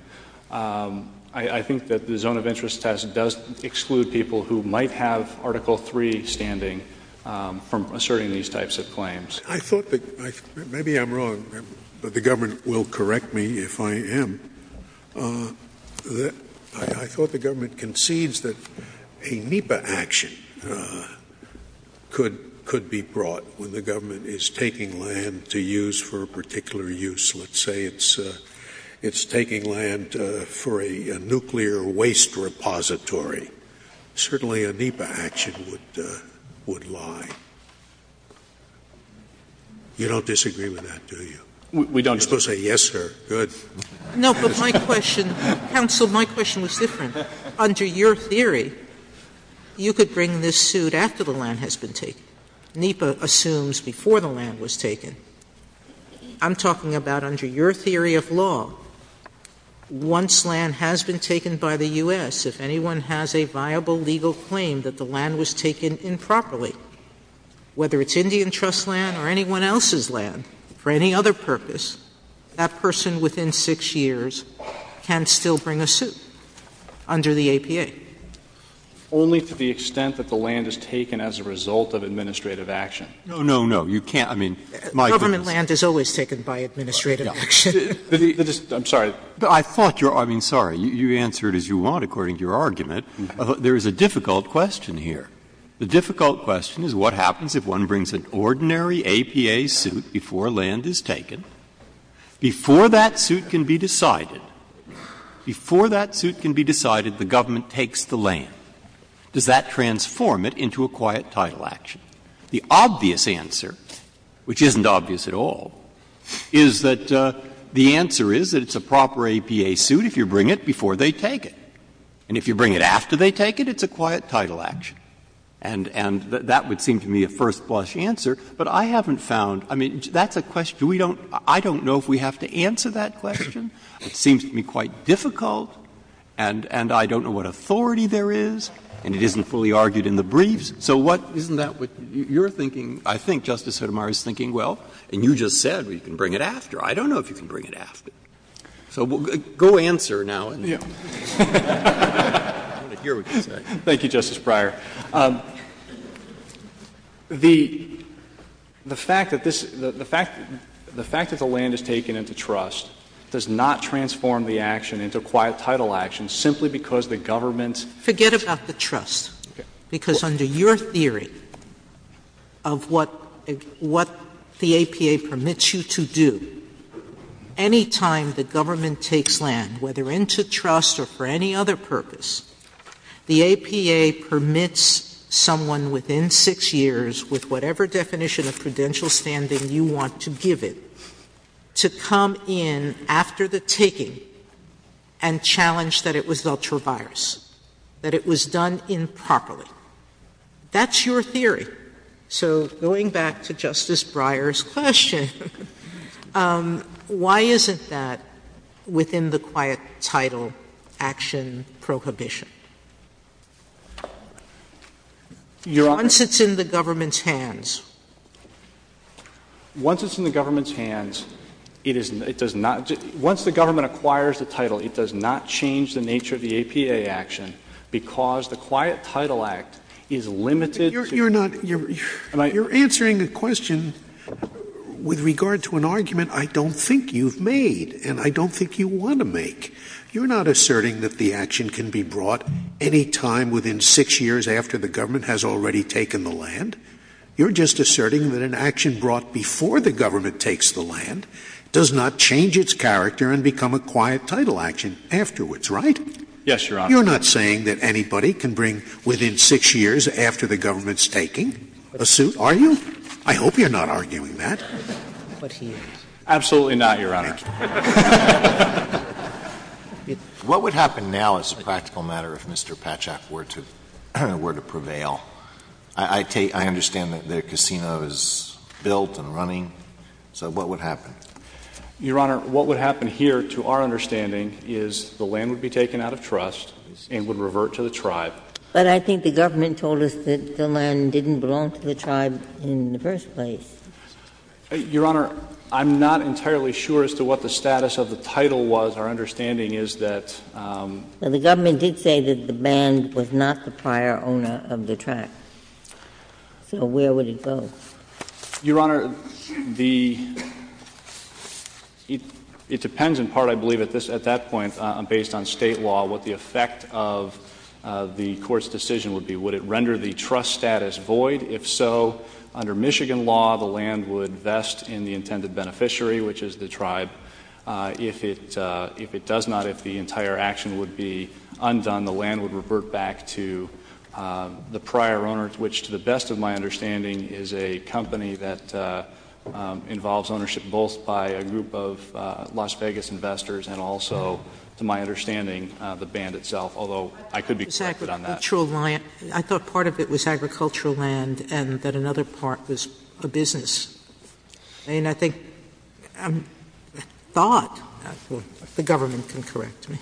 I think that the zone of interest test does exclude people who might have Article 3 standing from asserting these types of claims. I thought that — maybe I'm wrong, but the government will correct me if I am. I thought the government concedes that a NEPA action could be brought when the government is taking land to use for a particular use. Let's say it's taking land for a nuclear waste repository. Certainly a NEPA action would lie. You don't disagree with that, do you? We don't disagree. You're supposed to say yes, sir. Good. No, but my question — Counsel, my question was different. Under your theory, you could bring this suit after the land has been taken. NEPA assumes before the land was taken. I'm talking about under your theory of law, once land has been taken by the U.S., if anyone has a viable legal claim that the land was taken improperly, whether it's Indian Trust land or anyone else's land for any other purpose, that person within 6 years can still bring a suit under the APA. Only to the extent that the land is taken as a result of administrative action. No, no, no. You can't — I mean, my question is — Government land is always taken by administrative action. I'm sorry. I thought you're — I mean, sorry. You answered as you want according to your argument. There is a difficult question here. The difficult question is what happens if one brings an ordinary APA suit before land is taken, before that suit can be decided, before that suit can be decided, the government takes the land. Does that transform it into a quiet title action? The obvious answer, which isn't obvious at all, is that the answer is that it's a proper APA suit if you bring it before they take it. And if you bring it after they take it, it's a quiet title action. And that would seem to me a first-blush answer. But I haven't found — I mean, that's a question we don't — I don't know if we have to answer that question. It seems to me quite difficult, and I don't know what authority there is, and it isn't fully argued in the briefs. So what — isn't that what you're thinking? I think Justice Sotomayor is thinking, well, and you just said you can bring it after. I don't know if you can bring it after. So go answer now. I want to hear what you say. Thank you, Justice Breyer. The fact that this — the fact that the land is taken into trust does not transform the action into a quiet title action simply because the government's — Forget about the trust. Okay. Because under your theory of what the APA permits you to do, any time the government takes land, whether into trust or for any other purpose, the APA permits someone within 6 years, with whatever definition of prudential standing you want to give it, to come in after the taking and challenge that it was ultra-virus, that it was done improperly. That's your theory. So going back to Justice Breyer's question, why isn't that within the quiet title action prohibition? Once it's in the government's hands. Once it's in the government's hands, it is — it does not — once the government acquires the title, it does not change the nature of the APA action because the Quiet Title Act is limited to — You're not — you're answering a question with regard to an argument I don't think you've made and I don't think you want to make. You're not asserting that the action can be brought any time within 6 years after the government has already taken the land. You're just asserting that an action brought before the government takes the land does not change its character and become a quiet title action afterwards, right? Yes, Your Honor. You're not saying that anybody can bring within 6 years after the government's taking a suit, are you? I hope you're not arguing that. But he is. Absolutely not, Your Honor. Thank you. What would happen now as a practical matter if Mr. Patchak were to prevail? I take — I understand that the casino is built and running. So what would happen? Your Honor, what would happen here, to our understanding, is the land would be taken out of trust and would revert to the tribe. But I think the government told us that the land didn't belong to the tribe in the first place. Your Honor, I'm not entirely sure as to what the status of the title was. Our understanding is that — Well, the government did say that the band was not the prior owner of the track. So where would it go? Your Honor, the — it depends in part, I believe, at that point, based on state law, what the effect of the court's decision would be. Would it render the trust status void? If so, under Michigan law, the land would vest in the intended beneficiary, which is the tribe. If it does not, if the entire action would be undone, the land would revert back to the And I think that the band, to my understanding, is a company that involves ownership both by a group of Las Vegas investors and also, to my understanding, the band itself, although I could be corrected on that. I thought part of it was agricultural land and that another part was a business. And I think — I thought — the government can correct me.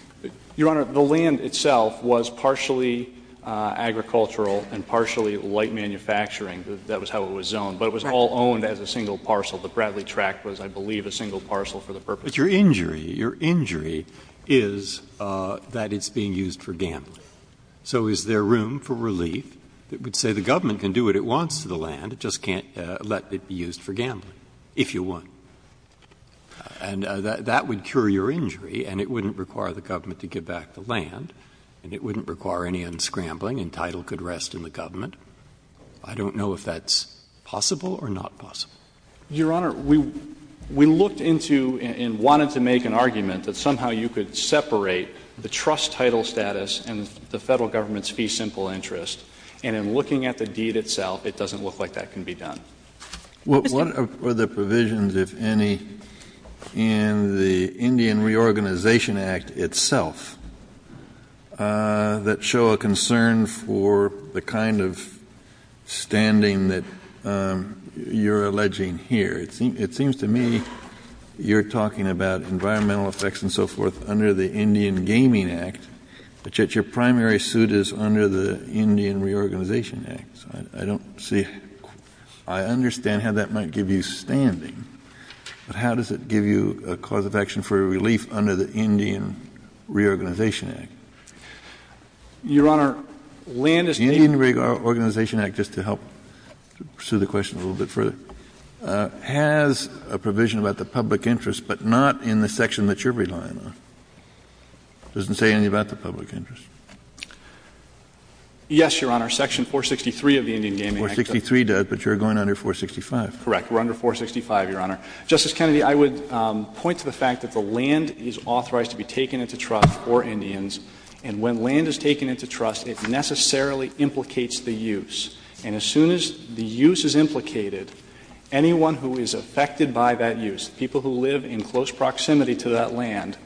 Your Honor, the land itself was partially agricultural and partially light manufacturing. That was how it was zoned. But it was all owned as a single parcel. The Bradley track was, I believe, a single parcel for the purpose of — But your injury — your injury is that it's being used for gambling. So is there room for relief that would say the government can do what it wants to the land, it just can't let it be used for gambling, if you want? And that would cure your injury and it wouldn't require the government to give back the land and it wouldn't require any unscrambling and title could rest in the government. I don't know if that's possible or not possible. Your Honor, we looked into and wanted to make an argument that somehow you could separate the trust title status and the Federal government's fee simple interest. And in looking at the deed itself, it doesn't look like that can be done. What are the provisions, if any, in the Indian Reorganization Act itself that show a concern for the kind of standing that you're alleging here? It seems to me you're talking about environmental effects and so forth under the Indian Gaming Act, but yet your primary suit is under the Indian Reorganization Act. I don't see — I understand how that might give you standing, but how does it give you a cause of action for relief under the Indian Reorganization Act? Your Honor, land is — The Indian Reorganization Act, just to help pursue the question a little bit further. It has a provision about the public interest, but not in the section that you're relying on. It doesn't say anything about the public interest. Yes, Your Honor. Section 463 of the Indian Gaming Act. 463 does, but you're going under 465. Correct. We're under 465, Your Honor. Justice Kennedy, I would point to the fact that the land is authorized to be taken into trust for Indians, and when land is taken into trust, it necessarily implicates the use. And as soon as the use is implicated, anyone who is affected by that use, people who live in close proximity to that land,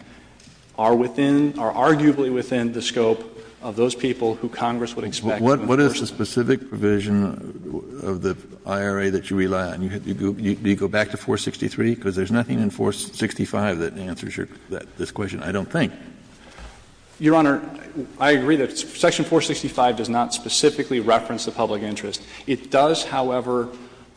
are within — are arguably within the scope of those people who Congress would expect. But what is the specific provision of the IRA that you rely on? Do you go back to 463? Because there's nothing in 465 that answers this question, I don't think. Your Honor, I agree that section 465 does not specifically reference the public interest. It does, however,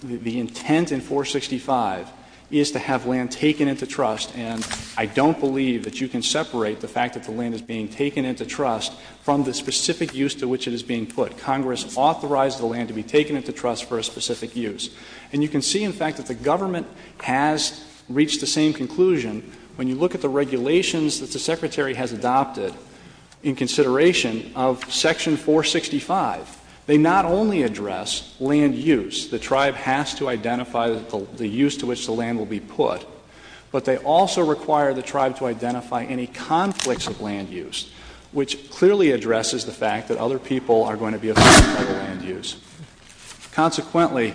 the intent in 465 is to have land taken into trust, and I don't believe that you can separate the fact that the land is being taken into trust from the specific use to which it is being put. Congress authorized the land to be taken into trust for a specific use. And you can see, in fact, that the government has reached the same conclusion when you look at the regulations that the Secretary has adopted in consideration of section 465. They not only address land use — the tribe has to identify the use to which the land will be put — but they also require the tribe to identify any conflicts of land use, which clearly addresses the fact that other people are going to be affected by the land use. Consequently,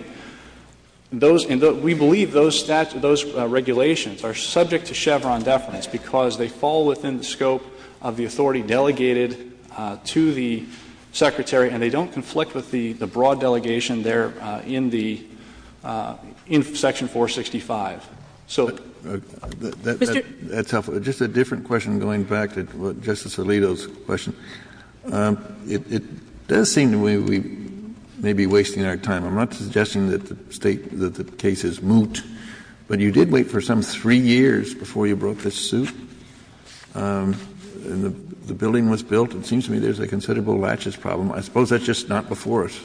those — and we believe those regulations are subject to Chevron deference because they fall within the scope of the authority delegated to the Secretary and they don't conflict with the broad delegation there in the — in section 465. So — Kennedy. That's helpful. Just a different question going back to Justice Alito's question. It does seem to me we may be wasting our time. I'm not suggesting that the State — that the case is moot, but you did wait for some three years before you brought this suit, and the building was built. It seems to me there's a considerable laches problem. I suppose that's just not before us.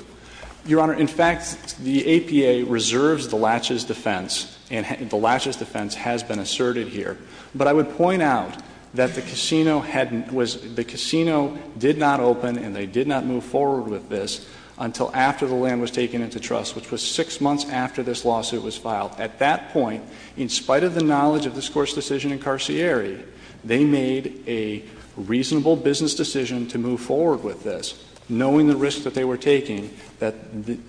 Your Honor, in fact, the APA reserves the laches defense, and the laches defense has been asserted here. But I would point out that the casino had — was — the casino did not open and they did not move forward with this until after the land was taken into trust, which was six months after this lawsuit was filed. At that point, in spite of the knowledge of this Court's decision in Carcieri, they made a reasonable business decision to move forward with this, knowing the risk that they were taking, that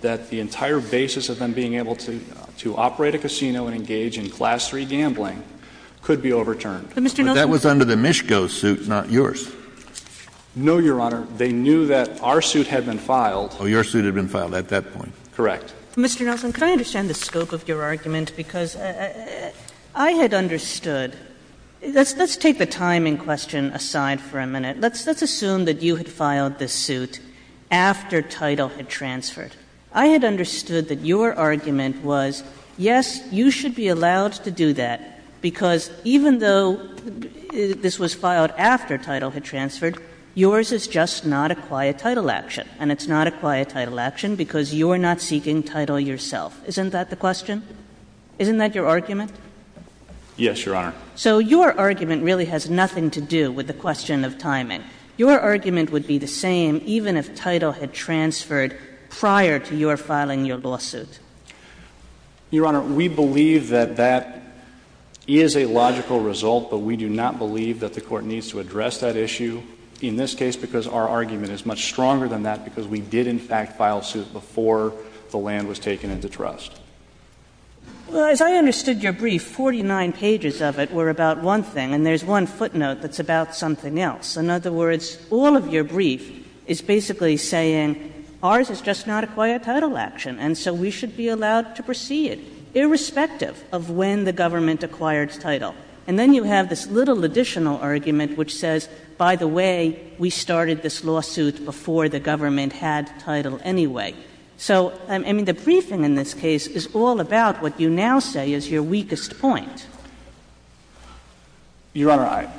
— that the entire basis of them being able to — to operate a casino and engage in Class III gambling could be overturned. But, Mr. Nelson — But that was under the Mischko suit, not yours. No, Your Honor. They knew that our suit had been filed. Oh, your suit had been filed at that point. Correct. Mr. Nelson, could I understand the scope of your argument? Because I had understood — let's — let's take the timing question aside for a minute. Let's — let's assume that you had filed this suit after title had transferred. I had understood that your argument was, yes, you should be allowed to do that, because even though this was filed after title had transferred, yours is just not a quiet title action, and it's not a quiet title action because you're not seeking title yourself. Isn't that the question? Isn't that your argument? Yes, Your Honor. So your argument really has nothing to do with the question of timing. Your argument would be the same even if title had transferred prior to your filing your lawsuit. Your Honor, we believe that that is a logical result, but we do not believe that the Court needs to address that issue in this case because our argument is much stronger than that because we did, in fact, file suit before the land was taken into trust. Well, as I understood your brief, 49 pages of it were about one thing, and there's one footnote that's about something else. In other words, all of your brief is basically saying, ours is just not a quiet title action, and so we should be allowed to proceed, irrespective of when the government acquired title. And then you have this little additional argument which says, by the way, we started this title anyway. So, I mean, the briefing in this case is all about what you now say is your weakest point. Your Honor,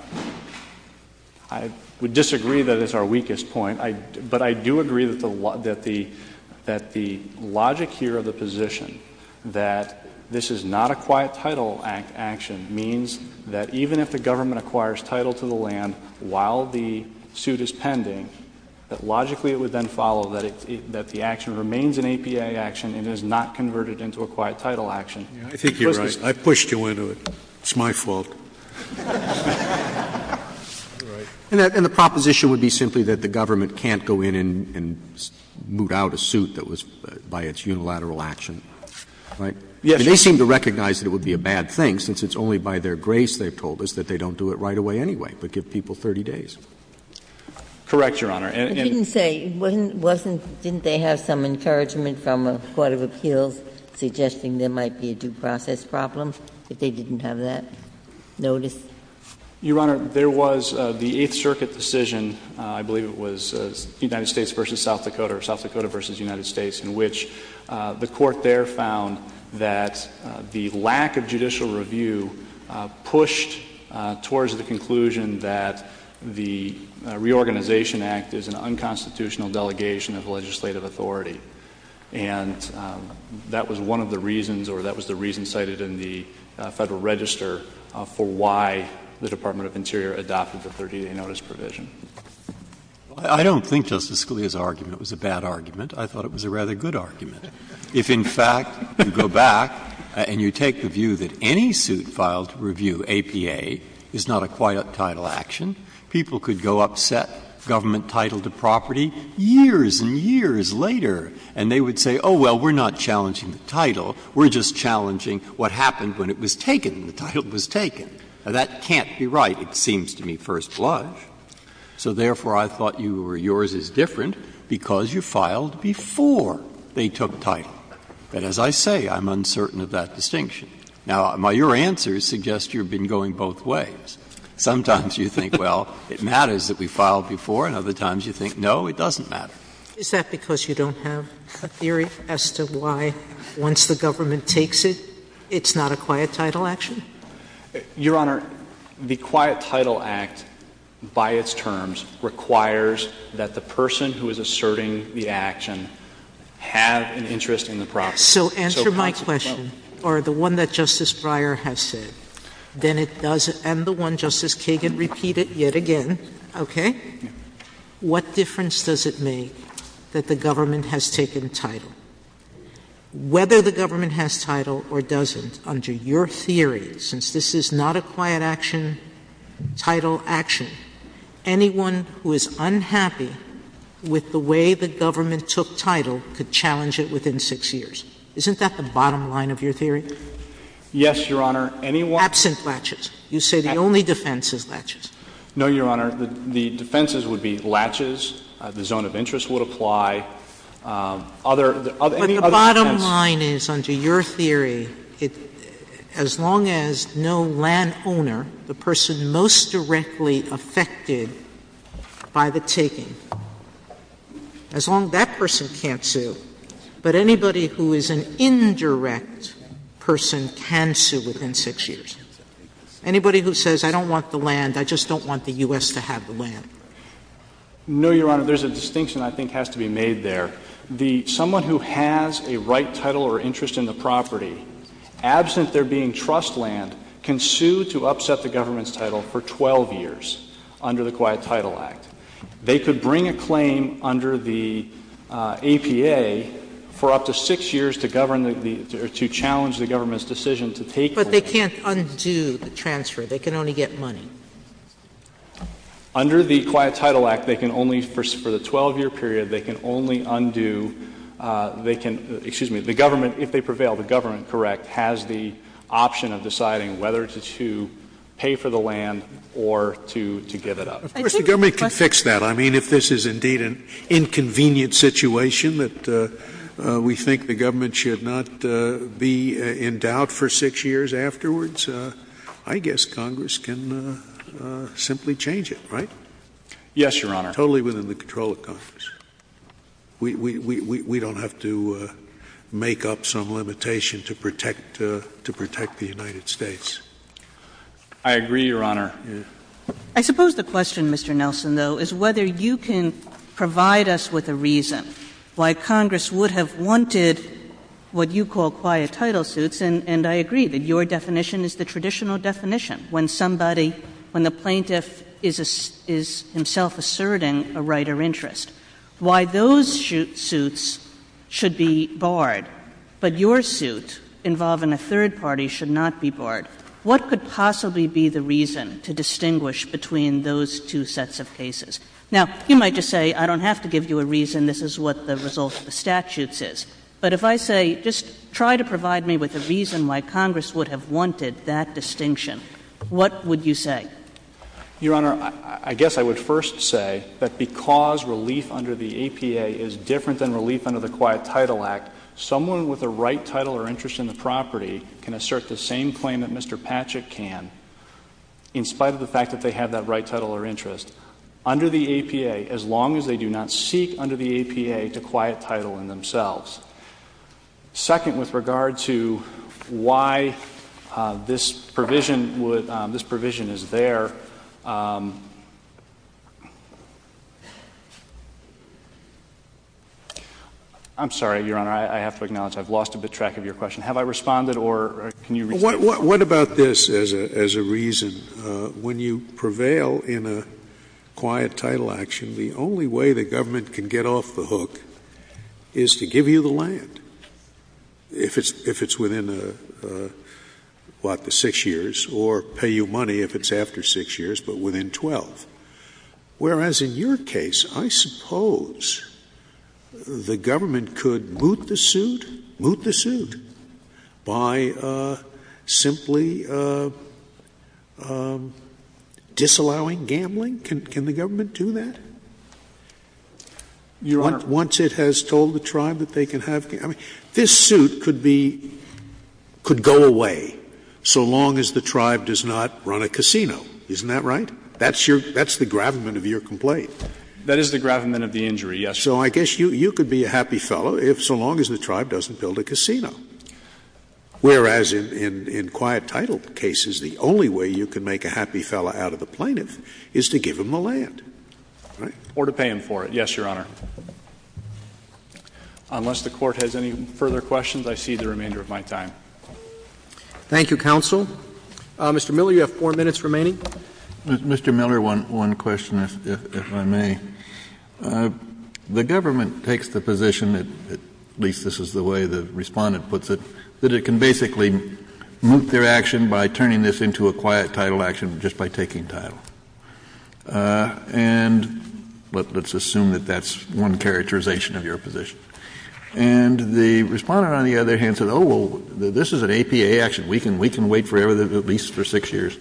I would disagree that it's our weakest point, but I do agree that the logic here of the position that this is not a quiet title action means that even if the government remains an APA action, it is not converted into a quiet title action. I think you're right. I pushed you into it. It's my fault. And the proposition would be simply that the government can't go in and moot out a suit that was by its unilateral action, right? Yes. They seem to recognize that it would be a bad thing, since it's only by their grace they've told us that they don't do it right away anyway, but give people 30 days. Correct, Your Honor. Didn't they have some encouragement from a court of appeals suggesting there might be a due process problem, if they didn't have that notice? Your Honor, there was the Eighth Circuit decision, I believe it was United States v. South Dakota or South Dakota v. United States, in which the court there found that the lack of judicial review pushed towards the conclusion that the Reorganization Act is an unconstitutional delegation of legislative authority. And that was one of the reasons, or that was the reason cited in the Federal Register for why the Department of Interior adopted the 30-day notice provision. I don't think Justice Scalia's argument was a bad argument. I thought it was a rather good argument. If, in fact, you go back and you take the view that any suit filed to review APA is not a quiet title action, people could go upset government title to property years and years later, and they would say, oh, well, we're not challenging the title. We're just challenging what happened when it was taken, when the title was taken. Now, that can't be right, it seems to me, First Lodge. So, therefore, I thought you were yours is different because you filed before they took title. And as I say, I'm uncertain of that distinction. Now, your answers suggest you've been going both ways. Sometimes you think, well, it matters that we filed before, and other times you think, no, it doesn't matter. Is that because you don't have a theory as to why once the government takes it, it's not a quiet title action? Your Honor, the Quiet Title Act, by its terms, requires that the person who is asserting the action have an interest in the property. So answer my question, or the one that Justice Breyer has said, and the one Justice Kagan repeated yet again, okay? What difference does it make that the government has taken title? Whether the government has title or doesn't, under your theory, since this is not a quiet action title action, anyone who is unhappy with the way the government took title could be sued. Isn't that the bottom line of your theory? Yes, Your Honor. Absent latches. You say the only defense is latches. No, Your Honor. The defenses would be latches. The zone of interest would apply. Any other defense? But the bottom line is, under your theory, as long as no landowner, the person most an indirect person can sue within 6 years. Anybody who says I don't want the land, I just don't want the U.S. to have the land. No, Your Honor. There's a distinction I think has to be made there. The — someone who has a right title or interest in the property, absent there being trust land, can sue to upset the government's title for 12 years under the Quiet Title Act. They could bring a claim under the APA for up to 6 years to govern the — to challenge the government's decision to take the land. But they can't undo the transfer. They can only get money. Under the Quiet Title Act, they can only, for the 12-year period, they can only undo — they can — excuse me, the government, if they prevail, the government, correct, has the option of deciding whether to pay for the land or to give it up. Of course, the government can fix that. I mean, if this is indeed an inconvenient situation that we think the government should not be in doubt for 6 years afterwards, I guess Congress can simply change it, right? Yes, Your Honor. Totally within the control of Congress. We don't have to make up some limitation to protect the United States. I agree, Your Honor. I suppose the question, Mr. Nelson, though, is whether you can provide us with a reason why Congress would have wanted what you call quiet title suits, and I agree that your definition is the traditional definition, when somebody — when the plaintiff is himself asserting a right or interest. Why those suits should be barred, but your suit involving a third party should not be barred? What could possibly be the reason to distinguish between those two sets of cases? Now, you might just say, I don't have to give you a reason. This is what the result of the statutes is. But if I say, just try to provide me with a reason why Congress would have wanted that distinction, what would you say? Your Honor, I guess I would first say that because relief under the APA is different than relief under the Quiet Title Act, someone with a right title or interest in the property can assert the same claim that Mr. Patrick can, in spite of the fact that they have that right title or interest, under the APA, as long as they do not seek under the APA to quiet title in themselves. Second, with regard to why this provision would — this provision is there, I'm sorry, Your Honor. I have to acknowledge I've lost a bit track of your question. Have I responded, or can you repeat it? What about this as a reason? When you prevail in a quiet title action, the only way the government can get off the hook is to give you the land, if it's within, what, the six years, or pay you money if it's after six years, but within 12. Whereas in your case, I suppose the government could moot the suit, moot the suit, by simply disallowing gambling. Can the government do that? Your Honor. Once it has told the tribe that they can have — I mean, this suit could be — could go away so long as the tribe does not run a casino. Isn't that right? That's your — that's the gravamen of your complaint. That is the gravamen of the injury, yes, Your Honor. So I guess you could be a happy fellow so long as the tribe doesn't build a casino. Whereas in quiet title cases, the only way you can make a happy fellow out of the plaintiff is to give him the land, right? Or to pay him for it, yes, Your Honor. Unless the Court has any further questions, I cede the remainder of my time. Thank you, counsel. Mr. Miller, you have four minutes remaining. Mr. Miller, one question, if I may. The government takes the position that — at least this is the way the Respondent puts it — that it can basically moot their action by turning this into a quiet title action just by taking title. And let's assume that that's one characterization of your position. And the Respondent, on the other hand, said, oh, well, this is an APA action. We can wait forever, at least for six years.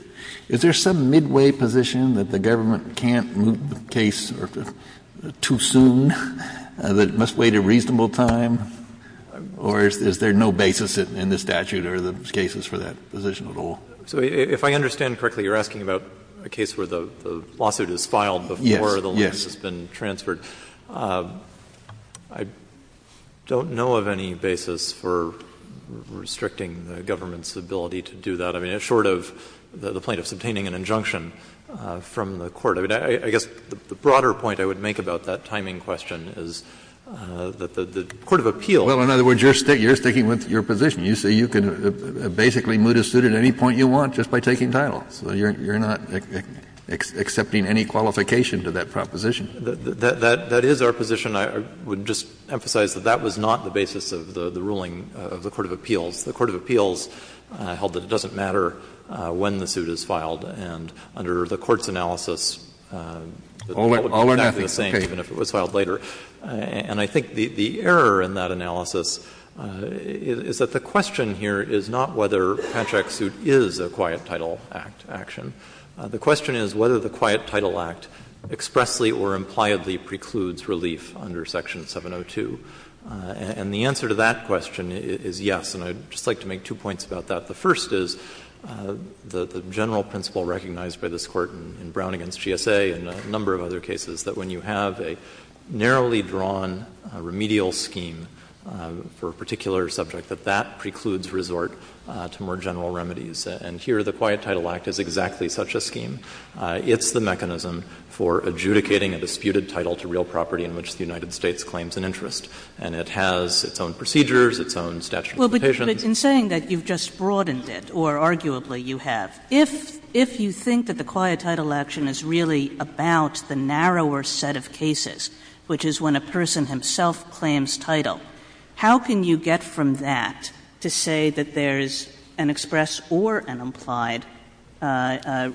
Is there some midway position that the government can't moot the case too soon, that it must wait a reasonable time? Or is there no basis in the statute or the cases for that position at all? So if I understand correctly, you're asking about a case where the lawsuit is filed before the land has been transferred. Yes, yes. I don't know of any basis for restricting the government's ability to do that. I mean, short of the plaintiff's obtaining an injunction from the court. I mean, I guess the broader point I would make about that timing question is that the court of appeal — Well, in other words, you're sticking with your position. You say you can basically moot a suit at any point you want just by taking title. So you're not accepting any qualification to that proposition. That is our position. I would just emphasize that that was not the basis of the ruling of the court of appeals. The court of appeals held that it doesn't matter when the suit is filed. And under the court's analysis, it would be exactly the same even if it was filed later. And I think the error in that analysis is that the question here is not whether Patchak's suit is a Quiet Title Act action. The question is whether the Quiet Title Act expressly or impliedly precludes relief under Section 702. And the answer to that question is yes. And I would just like to make two points about that. The first is the general principle recognized by this Court in Brown v. GSA and a number of other cases, that when you have a narrowly drawn remedial scheme for a particular subject, that that precludes resort to more general remedies. And here the Quiet Title Act is exactly such a scheme. It's the mechanism for adjudicating a disputed title to real property in which the United States claims an interest. And it has its own procedures, its own statute of limitations. Kagan. But in saying that, you've just broadened it, or arguably you have. If you think that the Quiet Title Action is really about the narrower set of cases, which is when a person himself claims title, how can you get from that to say that there's an express or an implied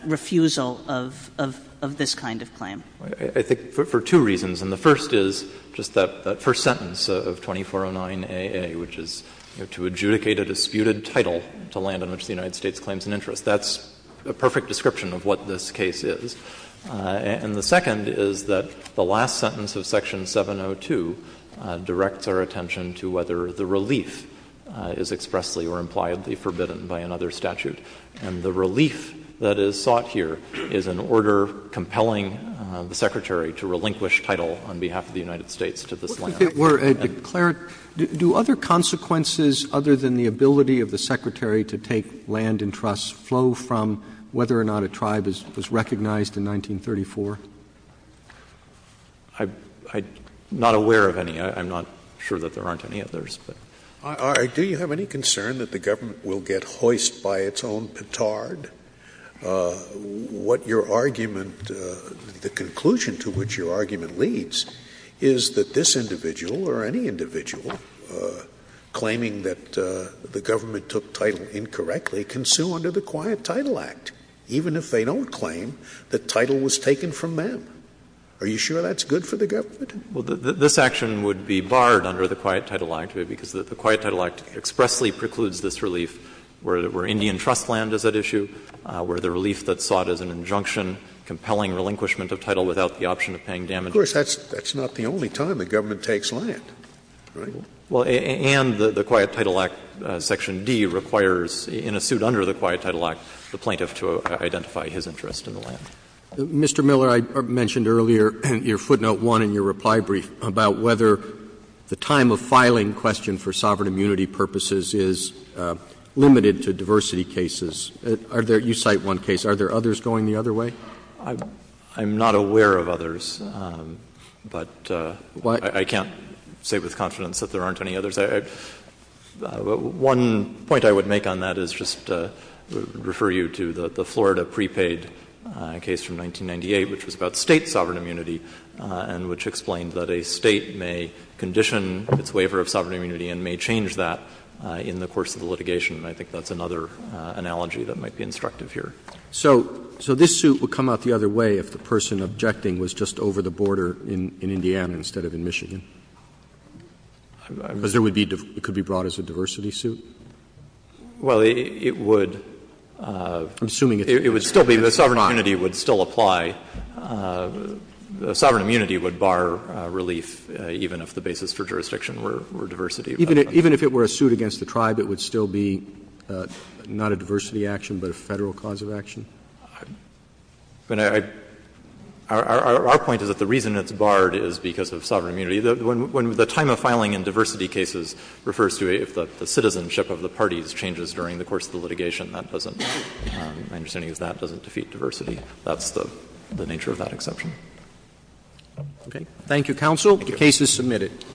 refusal of this kind of claim? Anandantham. I think for two reasons, and the first is just that first sentence of 2409AA, which is to adjudicate a disputed title to land on which the United States claims an interest. That's a perfect description of what this case is. And the second is that the last sentence of Section 702 directs our attention to whether the relief is expressly or impliedly forbidden by another statute. And the relief that is sought here is an order compelling the Secretary to relinquish title on behalf of the United States to this land. Roberts. Do other consequences, other than the ability of the Secretary to take land in trusts, flow from whether or not a tribe was recognized in 1934? Anandantham. I'm not aware of any. I'm not sure that there aren't any others. Scalia. Do you have any concern that the government will get hoist by its own petard? What your argument, the conclusion to which your argument leads is that this individual or any individual claiming that the government took title incorrectly can sue under the Quiet Title Act, even if they don't claim that title was taken from them. Are you sure that's good for the government? Well, this action would be barred under the Quiet Title Act because the Quiet Title Act expressly precludes this relief where Indian trust land is at issue, where the relief that's sought is an injunction compelling relinquishment of title without the option of paying damages. Of course, that's not the only time the government takes land, right? Well, and the Quiet Title Act, Section D, requires in a suit under the Quiet Title Act the plaintiff to identify his interest in the land. Mr. Miller, I mentioned earlier in your footnote 1 in your reply brief about whether the time of filing question for sovereign immunity purposes is limited to diversity cases. Are there — you cite one case. Are there others going the other way? I'm not aware of others, but I can't say with confidence that there aren't any others. One point I would make on that is just to refer you to the Florida prepaid case from 1998, which was about State sovereign immunity and which explained that a State may condition its waiver of sovereign immunity and may change that in the course of the litigation. And I think that's another analogy that might be instructive here. So this suit would come out the other way if the person objecting was just over the border in Indiana instead of in Michigan? Because there would be — it could be brought as a diversity suit? Miller, I'm assuming it's a jurisdiction. It would still be, but sovereign immunity would still apply. Sovereign immunity would bar relief even if the basis for jurisdiction were diversity. Even if it were a suit against the tribe, it would still be not a diversity action, but a Federal cause of action? Our point is that the reason it's barred is because of sovereign immunity. When the time of filing in diversity cases refers to if the citizenship of the parties changes during the course of the litigation, that doesn't — my understanding is that doesn't defeat diversity. That's the nature of that exception. Okay. Thank you, counsel. The case is submitted.